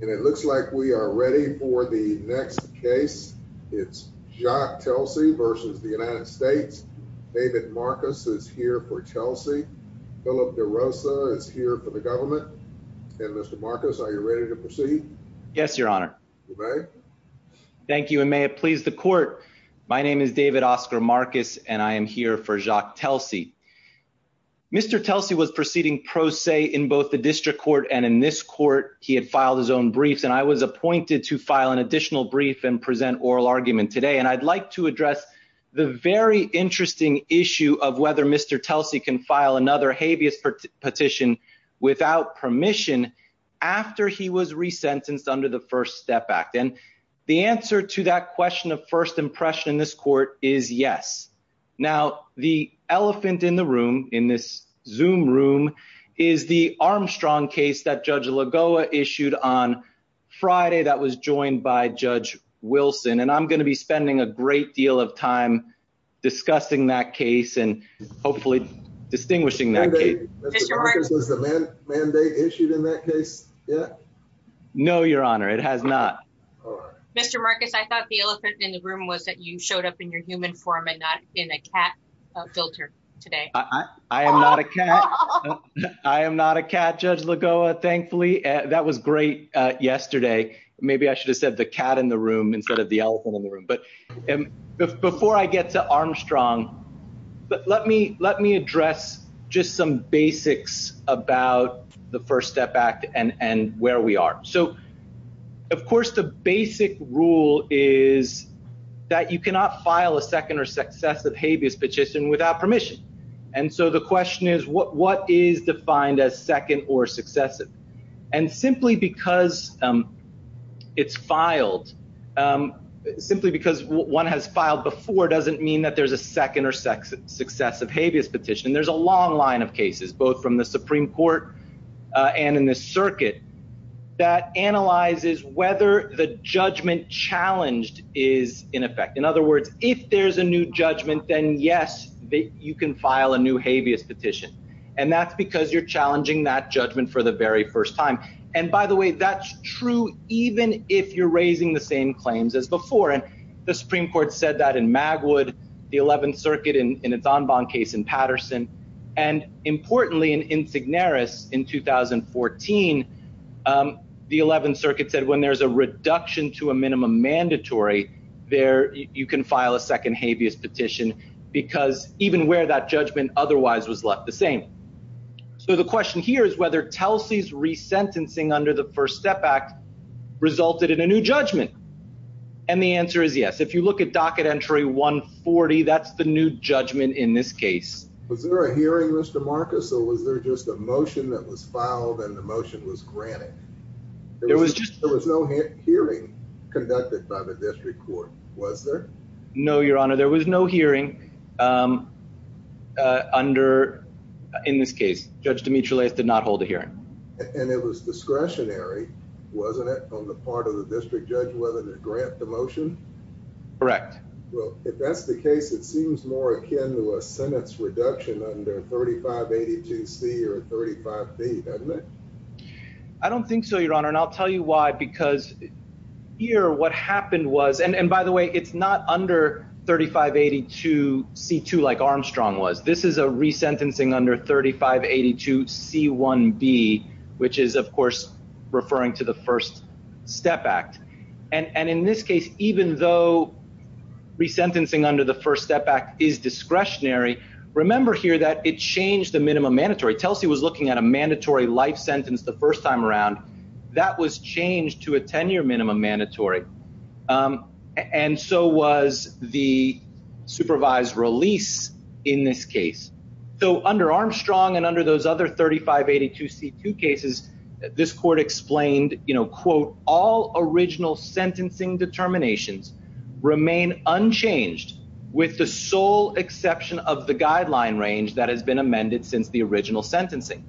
and it looks like we are ready for the next case. It's Jacques Telcy v. United States. David Marcus is here for Telcy. Philip DeRosa is here for the government. And Mr. Marcus, are you ready to proceed? Yes, your honor. Thank you and may it please the court. My name is David Oscar Marcus and I am here for Jacques Telcy. Mr. Telcy was proceeding pro se in both the district court and in this court, he had filed his own briefs and I was appointed to file an additional brief and present oral argument today. And I'd like to address the very interesting issue of whether Mr. Telcy can file another habeas petition without permission after he was resentenced under the First Step Act. And the answer to that question of first impression in this court is yes. Now, the elephant in the on Friday that was joined by Judge Wilson. And I'm going to be spending a great deal of time discussing that case and hopefully distinguishing that case. No, your honor, it has not. Mr. Marcus, I thought the elephant in the room was that you showed up in your human form and not in a cat filter today. I am not a cat. I am not a cat, Judge Lagoa, thankfully. That was great yesterday. Maybe I should have said the cat in the room instead of the elephant in the room. But before I get to Armstrong, but let me let me address just some basics about the First Step Act and where we are. So, of course, the basic rule is that you cannot file a second or successive habeas petition without permission. And so the question is, what is defined as second or successive? And simply because it's filed simply because one has filed before doesn't mean that there's a second or second successive habeas petition. There's a long line of cases, both from the Supreme Court and in the circuit that analyzes whether the judgment challenged is in effect. In other words, if there's a new judgment, then yes, you can file a new habeas petition. And that's because you're challenging that judgment for the very first time. And by the way, that's true even if you're raising the same claims as before. And the Supreme Court said that in Magwood, the 11th Circuit in its Enbon case in Patterson, and importantly, in Insignaris in 2014, the 11th Circuit said when there's a reduction to a minimum mandatory, there you can file a second habeas petition because even where that judgment otherwise was left the same. So the question here is whether Telsey's resentencing under the First Step Act resulted in a new judgment. And the answer is yes. If you look at docket entry 140, that's the new judgment in this case. Was there a hearing, Mr. Marcus, or was there just a motion that was filed and the motion was granted? There was no hearing conducted by the district court, was there? No, Your Honor, there was no hearing under, in this case, Judge Demetrious did not hold a hearing. And it was discretionary, wasn't it, on the part of the district judge whether to grant the motion? Correct. Well, if that's the case, it seems more akin to a sentence reduction under 3582C or 35B, doesn't it? I don't think so, Your Honor, and I'll tell you why, because here what happened was, and by the way, it's not under 3582C2 like Armstrong was. This is a resentencing under 3582C1B, which is, of course, referring to the First Step Act. And in this case, even though resentencing under the First Step Act is discretionary, remember here that it changed the minimum mandatory. Telsey was looking at a mandatory life sentence the first time around. That was changed to a 10-year minimum mandatory. And so was the supervised release in this case. So under Armstrong and under those other 3582C2 cases, this court explained, you know, the district court's determination remain unchanged with the sole exception of the guideline range that has been amended since the original sentencing.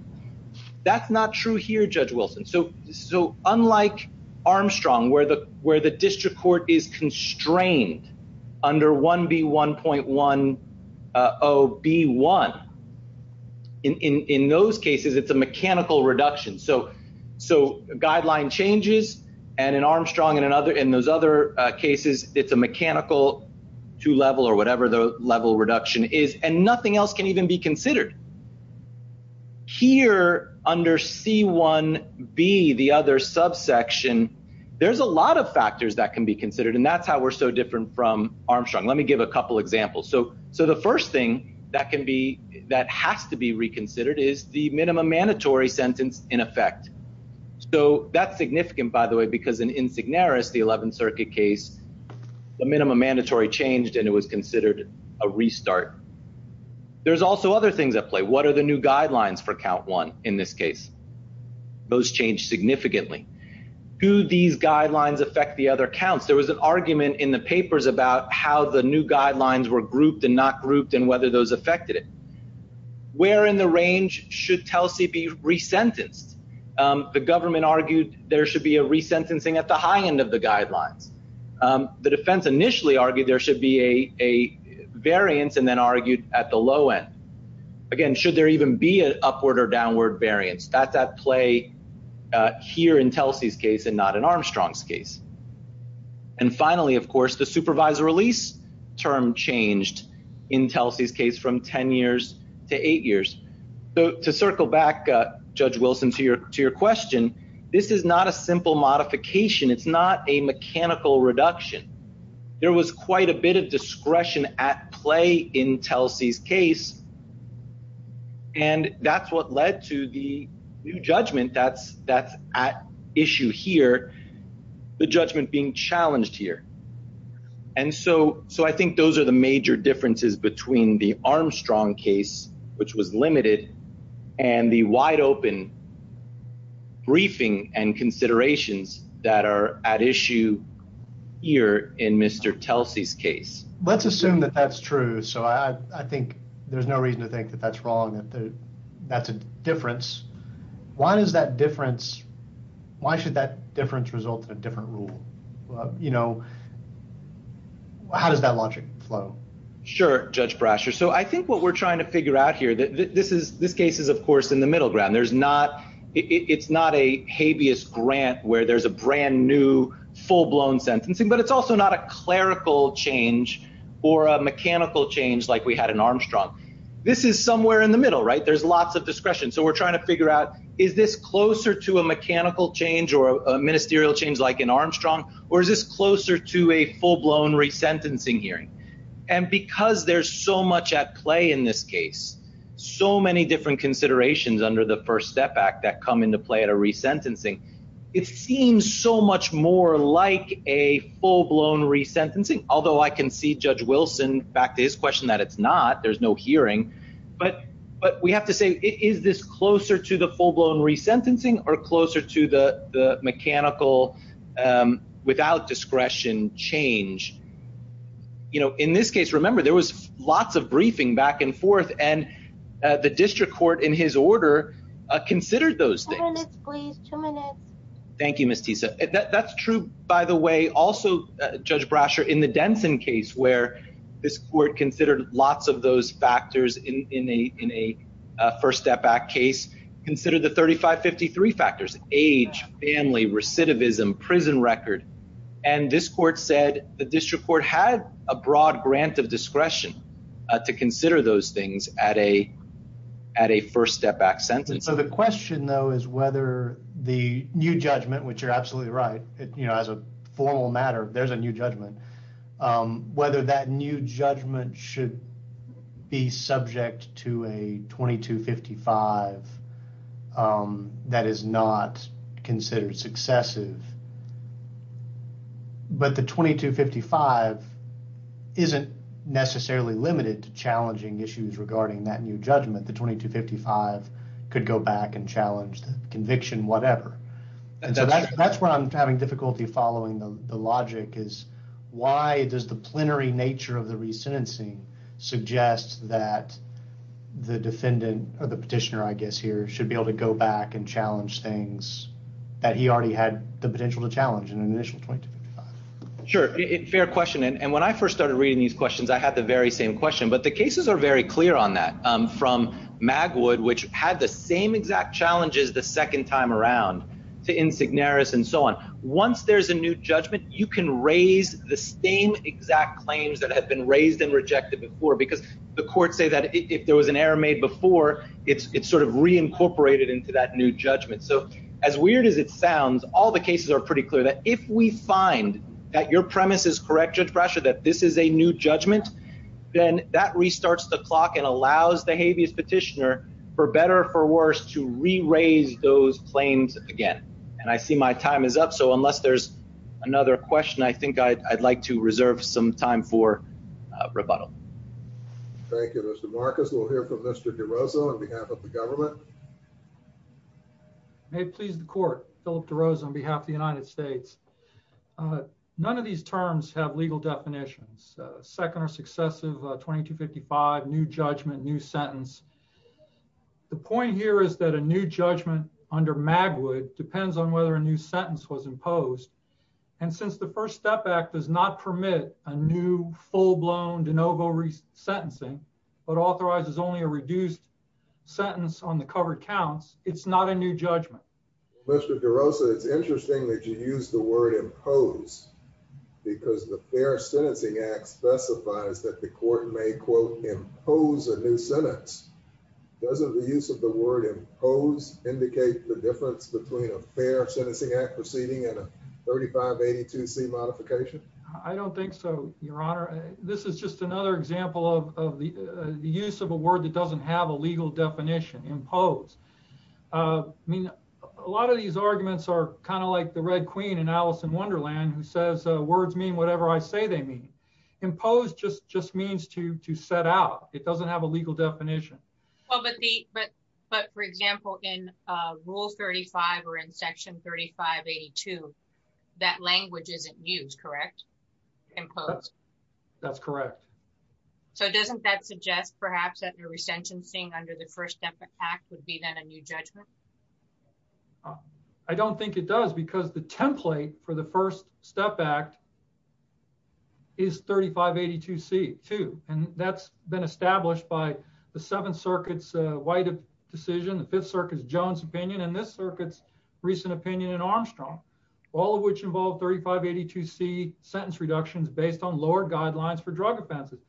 That's not true here, Judge Wilson. So unlike Armstrong, where the district court is constrained under 1B1.10B1, in those cases, it's a mechanical reduction. So guideline changes and in Armstrong and in other cases, it's a mechanical two-level or whatever the level reduction is, and nothing else can even be considered. Here under C1B, the other subsection, there's a lot of factors that can be considered, and that's how we're so different from Armstrong. Let me give a couple examples. So the first thing that has to be reconsidered is the minimum mandatory sentence in effect. So that's significant, by the way, because in Insignaris, the 11th Circuit case, the minimum mandatory changed and it was considered a restart. There's also other things at play. What are the new guidelines for count one in this case? Those change significantly. Do these guidelines affect the other counts? There was an argument in the papers about how the new guidelines were grouped and not grouped and whether those affected it. Where in the range should Telsey be re-sentenced? The government argued there should be a re-sentencing at the high end of the guidelines. The defense initially argued there should be a variance and then argued at the low end. Again, should there even be an upward or downward variance? That's at play here in Telsey's case and not in Armstrong's case. And finally, of course, the supervisor release term changed in Telsey's case from 10 years to eight years. To circle back, Judge Wilson, to your question, this is not a simple modification. It's not a mechanical reduction. There was quite a bit of discretion at play in Telsey's case and that's what led to the new judgment that's at issue here, the judgment being challenged here. And so I think those are the major differences between the Armstrong case, which was limited, and the wide open briefing and considerations that are at issue here in Mr. Telsey's case. Let's assume that that's true. So I think there's no reason to think that that's wrong, that's a difference. Why should that difference result in a different rule? How does that logic flow? Sure, Judge Brasher. So I think what we're trying to figure out here, this case is of course in the middle ground. It's not a habeas grant where there's a brand new full-blown sentencing, but it's also not a clerical change or a mechanical change like we had in Armstrong. This is somewhere in the middle, right? There's lots of discretion. So we're trying to figure out, is this closer to a mechanical change or a ministerial change like in Armstrong, or is this closer to a full-blown resentencing hearing? And because there's so much at play in this case, so many different considerations under the First Step Act that come into play at a resentencing, it seems so much more like a full-blown resentencing. Although I can see Judge Wilson back to his question that it's not, there's no hearing. But we have to say, is this closer to the full-blown resentencing or closer to the mechanical, without discretion, change? In this case, remember, there was lots of briefing back and forth and the district court in his order considered those things. Thank you, Ms. Tisa. That's true, by the way. Also, Judge Brasher, in the Denson case where this court considered lots of those factors in a First Step Act case, considered the 35-53 factors, age, family, recidivism, prison record. And this court said the district court had a broad grant of discretion to consider those things at a First Step Act sentencing. So the question though is whether the new judgment, which you're absolutely right, as a formal matter, there's a new judgment, whether that new judgment should be subject to a 22-55 that is not considered successive. But the 22-55 isn't necessarily limited to challenging issues regarding that new judgment. The 22-55 could go back and challenge the conviction, whatever. And so that's where I'm having difficulty following the logic is why does the plenary nature of the resentencing suggest that the defendant or the petitioner, I guess here, should be able to go back and challenge an initial 22-55? Sure. Fair question. And when I first started reading these questions, I had the very same question. But the cases are very clear on that from Magwood, which had the same exact challenges the second time around to Insignaris and so on. Once there's a new judgment, you can raise the same exact claims that have been raised and rejected before because the courts say that if there was an error made before, it's sort of reincorporated into that new judgment. So as if we find that your premise is correct, Judge Brasher, that this is a new judgment, then that restarts the clock and allows the habeas petitioner, for better or for worse, to re-raise those claims again. And I see my time is up. So unless there's another question, I think I'd like to reserve some time for rebuttal. Thank you, Mr. Marcus. We'll hear from Mr. DeRosa on behalf of the government. May it please the court, Philip DeRosa on behalf of the United States. None of these terms have legal definitions. Second or successive 22-55, new judgment, new sentence. The point here is that a new judgment under Magwood depends on whether a new sentence was imposed. And since the First Step Act does not permit a new full-blown de novo sentencing, but authorizes only a reduced sentence on the covered counts, it's not a new judgment. Mr. DeRosa, it's interesting that you use the word impose because the Fair Sentencing Act specifies that the court may, quote, impose a new sentence. Doesn't the use of the word impose indicate the difference between a Fair Sentencing Act proceeding and a 3582C modification? I don't think so, Your Honor. This is just another example of the use of a word that doesn't have a legal definition, impose. I mean, a lot of these arguments are kind of like the Red Queen in Alice in Wonderland who says, words mean whatever I say they mean. Impose just means to set out. It doesn't have a legal definition. But for example, in Rule 35 or in Section 3582, that language isn't used, correct? Impose. That's correct. So doesn't that suggest perhaps that the resentencing under the First Step Act would be then a new judgment? I don't think it does because the template for the First Step Act is 3582C, too. And that's been established by the Seventh Circuit's White decision, the Fifth Circuit's Jones opinion, and this circuit's recent opinion in Armstrong, all of which involve 3582C sentence reductions based on lower guidelines for drug offenses.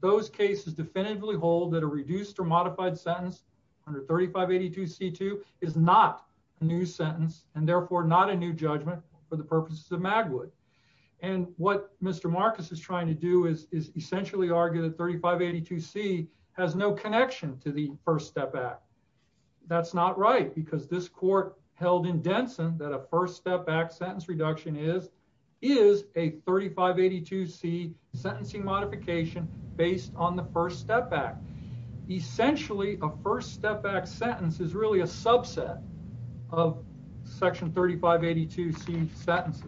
Those cases definitively hold that a reduced or modified sentence under 3582C2 is not a new sentence and therefore not a new judgment for the purposes of Magwood. And what Mr. Marcus is trying to do is essentially argue that 3582C has no connection to the First Step Act. That's not because this court held in Denson that a First Step Act sentence reduction is a 3582C sentencing modification based on the First Step Act. Essentially, a First Step Act sentence is really a subset of Section 3582C sentences.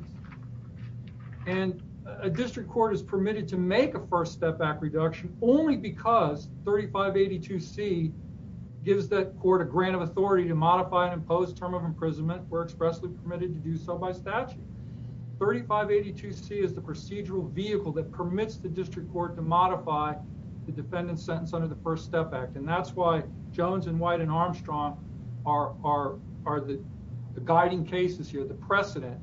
And a district court is permitted to make a First Step Act reduction only because 3582C gives that court a grant of authority to modify and impose term of imprisonment. We're expressly permitted to do so by statute. 3582C is the procedural vehicle that permits the district court to modify the defendant's sentence under the First Step Act. And that's why Jones and White and Armstrong are the guiding cases here, the precedent.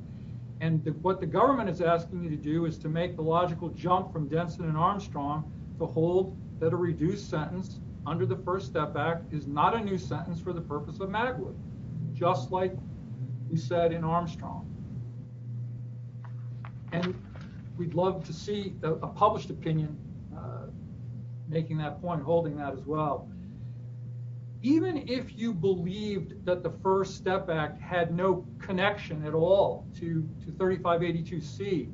And what the government is asking you to do is to make the logical jump from Denson and Armstrong to hold that a reduced sentence under the First Step Act is not a new sentence for the purpose of Magwood, just like we said in Armstrong. And we'd love to see a published opinion making that point, holding that as well. Even if you believed that the First Step Act had no to 3582C,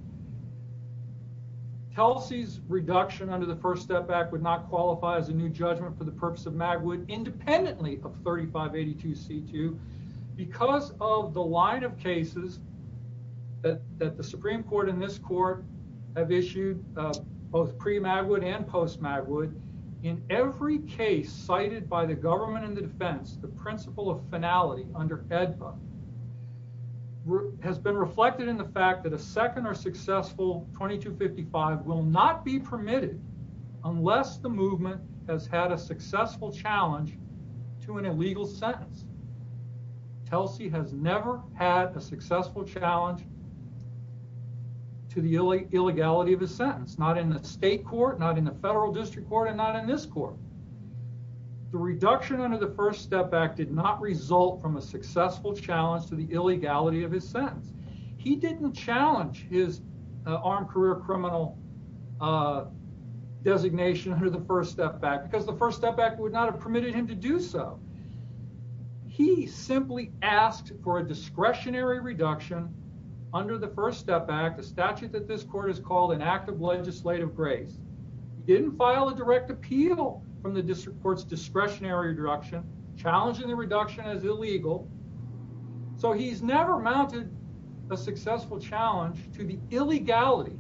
Kelsey's reduction under the First Step Act would not qualify as a new judgment for the purpose of Magwood independently of 3582C too. Because of the line of cases that the Supreme Court and this court have issued, both pre-Magwood and post-Magwood, in every case cited by the government and the defense, the principle of finality under AEDPA has been reflected in the fact that a second or successful 2255 will not be permitted unless the movement has had a successful challenge to an illegal sentence. Kelsey has never had a successful challenge to the illegality of a sentence, not in the state court, not in the federal district court, and not in this court. The reduction under the First Step Act did not result from a successful challenge to the illegality of his sentence. He didn't challenge his armed career criminal designation under the First Step Act because the First Step Act would not have permitted him to do so. He simply asked for a discretionary reduction under the First Step Act, a statute that this court has called an act of legislative grace. He didn't file a direct appeal from the district court's discretionary reduction, challenging the reduction as illegal. So he's never mounted a successful challenge to the illegality.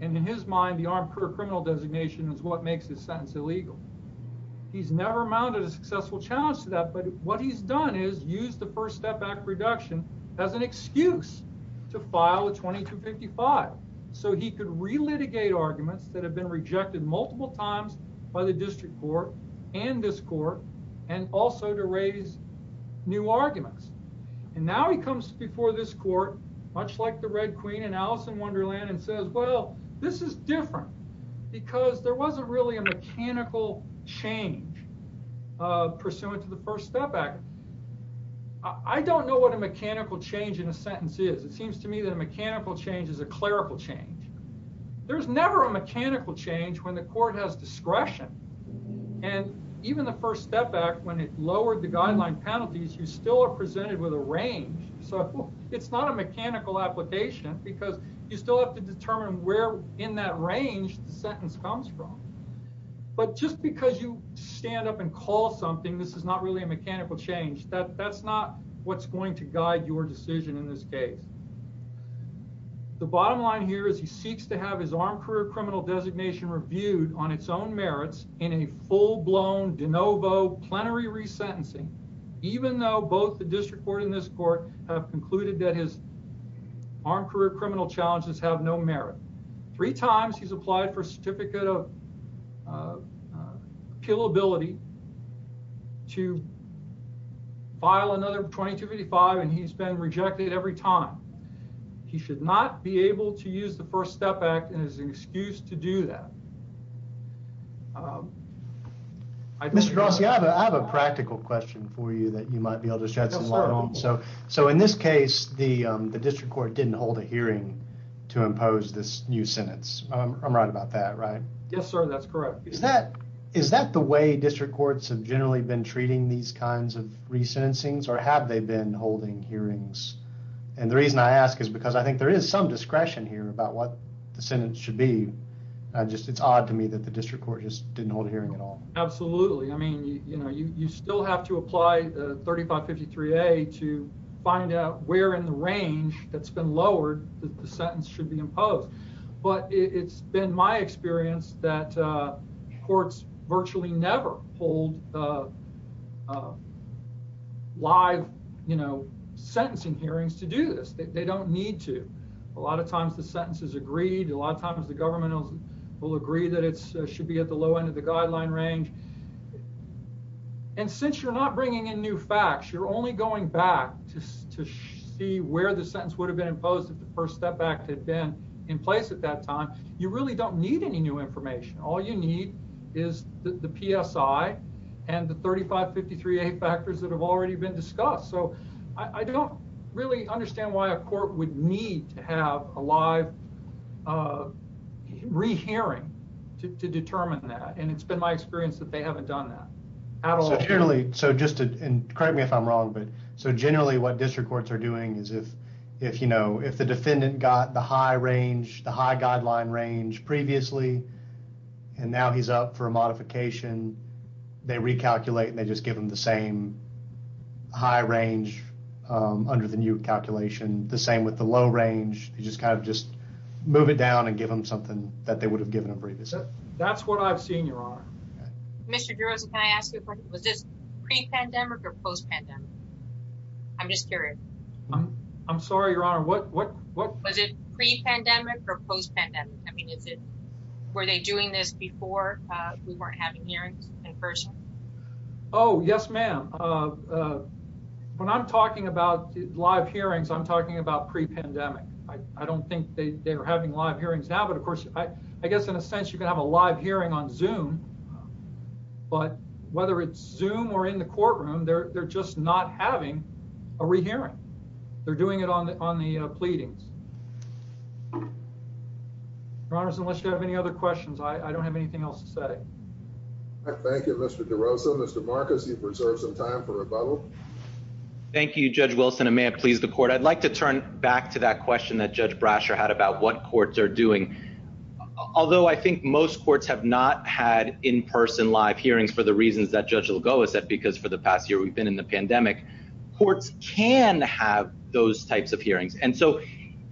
And in his mind, the armed career criminal designation is what makes his sentence illegal. He's never mounted a successful challenge to that. But what he's done is used the First Step Act reduction as an excuse to file a 2255 so he could re-litigate arguments that have been rejected multiple times by the district court and this court and also to raise new arguments. And now he comes before this court, much like the Red Queen and Alice in Wonderland, and says, well, this is different because there wasn't really a mechanical change pursuant to the First Step Act. I don't know what a mechanical change in a sentence is. It seems to me that a mechanical change is a clerical change. There's never a mechanical change when the court has discretion. And even the First Step Act, when it lowered the guideline penalties, you still are presented with a range. So it's not a mechanical application because you still have to determine where in that range the sentence comes from. But just because you stand up and call something, this is not really a mechanical change. That's not what's going to guide your decision in this case. The bottom line here is he seeks to have his armed career criminal designation reviewed on its own merits in a full-blown de novo plenary resentencing, even though both the district court and this court have concluded that his armed career criminal challenges have no merit. Three times he's applied for a certificate of appealability to file another 2255, and he's been rejected every time. He should not be able to use the First Step Act as an excuse to do that. Mr. Grossi, I have a practical question for you that you might be able to shed some light on. So in this case, the district court didn't hold a hearing to impose this new sentence. I'm right Is that the way district courts have generally been treating these kinds of resentencings, or have they been holding hearings? And the reason I ask is because I think there is some discretion here about what the sentence should be. It's odd to me that the district court just didn't hold a hearing at all. Absolutely. I mean, you still have to apply 3553A to find out where in the range that's been lowered that the sentence should be imposed. But it's been my experience that courts virtually never hold live, you know, sentencing hearings to do this. They don't need to. A lot of times the sentence is agreed. A lot of times the government will agree that it should be at the low end of the guideline range. And since you're not bringing in new facts, you're only going back to see where the sentence would have been imposed if the First Step Act had been in place at that time. You really don't need any new information. All you need is the PSI and the 3553A factors that have already been discussed. So I don't really understand why a court would need to have a live re-hearing to determine that. And it's been my experience that they haven't done that at all. So generally, and correct me if I'm wrong, but if, you know, if the defendant got the high range, the high guideline range previously, and now he's up for a modification, they recalculate and they just give him the same high range under the new calculation. The same with the low range. You just kind of just move it down and give them something that they would have given him previously. That's what I've seen, Your Honor. Mr. Giroza, can I ask you a question? Was this I'm sorry, Your Honor. Was it pre-pandemic or post-pandemic? I mean, were they doing this before we weren't having hearings in person? Oh, yes, ma'am. When I'm talking about live hearings, I'm talking about pre-pandemic. I don't think they were having live hearings now, but of course, I guess in a sense, you can have a live hearing on Zoom, but whether it's Zoom or in the courtroom, they're just not having a re-hearing. They're doing it on the pleadings. Your Honor, unless you have any other questions, I don't have anything else to say. Thank you, Mr. Giroza. Mr. Marcus, you've reserved some time for rebuttal. Thank you, Judge Wilson, and may it please the court. I'd like to turn back to that question that Judge Brasher had about what courts are doing. Although I think most courts have not had in-person live hearings for the reasons that Judge Lagoa said, because for the past year we've been in the pandemic, courts can have those types of hearings.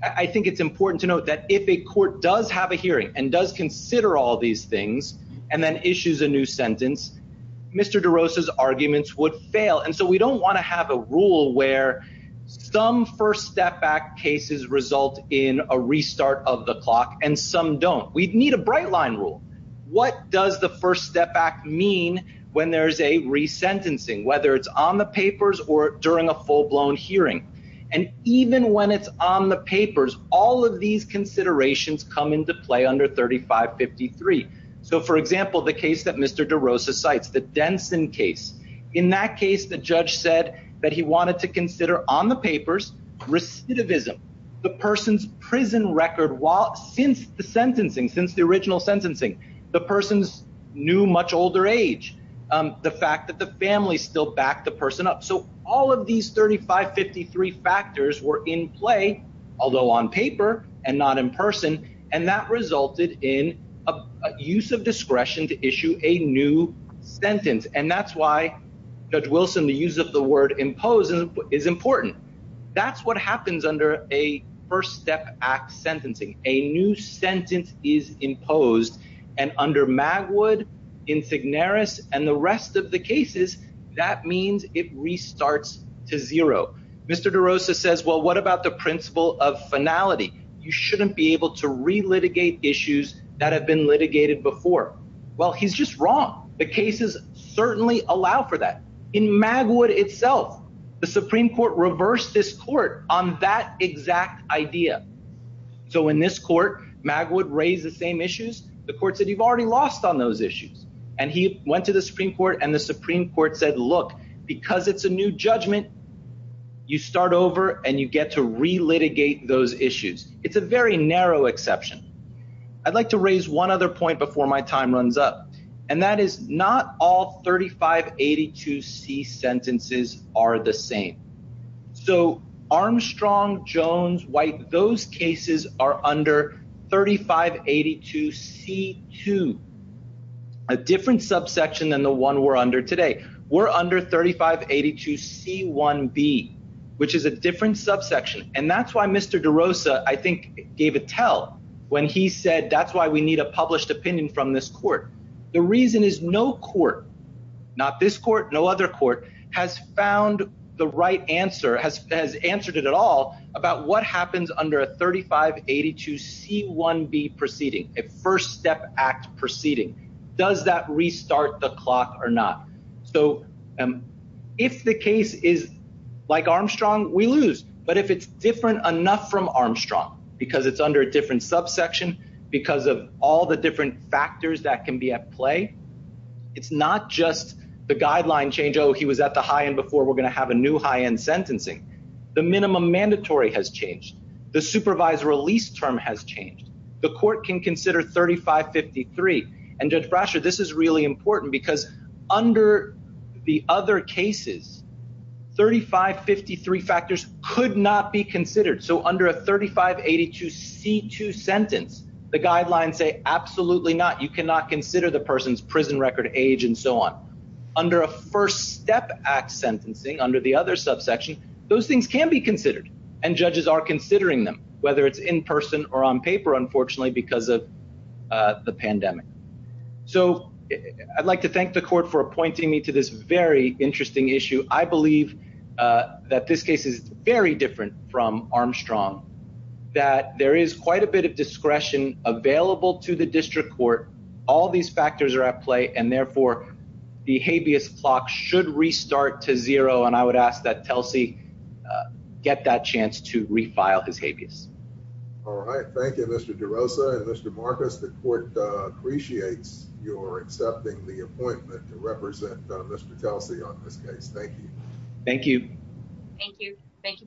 I think it's important to note that if a court does have a hearing and does consider all these things and then issues a new sentence, Mr. Giroza's arguments would fail. We don't want to have a rule where some first step back cases result in a restart of the clock and some don't. We need a bright rule. What does the First Step Act mean when there's a re-sentencing, whether it's on the papers or during a full-blown hearing? Even when it's on the papers, all of these considerations come into play under 3553. For example, the case that Mr. Giroza cites, the Denson case. In that case, the judge said that he wanted to consider on the papers recidivism, the person's original sentencing, the person's new, much older age, the fact that the family still backed the person up. All of these 3553 factors were in play, although on paper and not in person, and that resulted in a use of discretion to issue a new sentence. That's why, Judge Wilson, the use of the word impose is important. That's what happens under a First Step Act sentencing. A new sentence is imposed, and under Magwood, Insignaris, and the rest of the cases, that means it restarts to zero. Mr. Giroza says, well, what about the principle of finality? You shouldn't be able to re-litigate issues that have been litigated before. Well, he's just wrong. The cases certainly allow for that. In Magwood itself, the Supreme Court reversed this court on that exact idea. In this court, Magwood raised the same issues. The court said, you've already lost on those issues. He went to the Supreme Court, and the Supreme Court said, look, because it's a new judgment, you start over and you get to re-litigate those issues. It's a very narrow exception. I'd like to raise one other point before my time runs up, and that is not all 3582C sentences are the same. Armstrong, Jones, White, those cases are under 3582C2, a different subsection than the one we're under today. We're under 3582C1B, which is a different subsection. That's why Mr. Giroza, I think, gave a tell when he said, that's why we need a published opinion from this court. The reason is no court, not this court, no other court, has found the right answer, has answered it at all about what happens under a 3582C1B proceeding, a First Step Act proceeding. Does that restart the clock or not? If the case is like Armstrong, we lose. But if it's different enough from Armstrong, because it's under a different subsection, because of all the different factors that can be at play, it's not just the guideline change. Oh, he was at the high end before. We're going to have a new high end sentencing. The minimum mandatory has changed. The supervised release term has changed. The court can consider 3553. And Judge Brasher, this is really important because under the other cases, 3553 factors could not be considered. So under a 3582C2 sentence, the guidelines say absolutely not. You cannot consider the person's prison record, age, and so on. Under a First Step Act sentencing, under the other subsection, those things can be considered. And judges are considering them, whether it's in person or on paper, unfortunately, because of the pandemic. So I'd like to thank the court for appointing me to this very interesting issue. I believe that this case is very different from Armstrong, that there is quite a bit of discretion available to the district court. All these factors are at play. And therefore, the habeas clock should restart to zero. And I would ask that Thank you, Mr. DeRosa and Mr. Marcus. The court appreciates your accepting the appointment to represent Mr. Kelsey on this case. Thank you. Thank you. Thank you. Thank you both.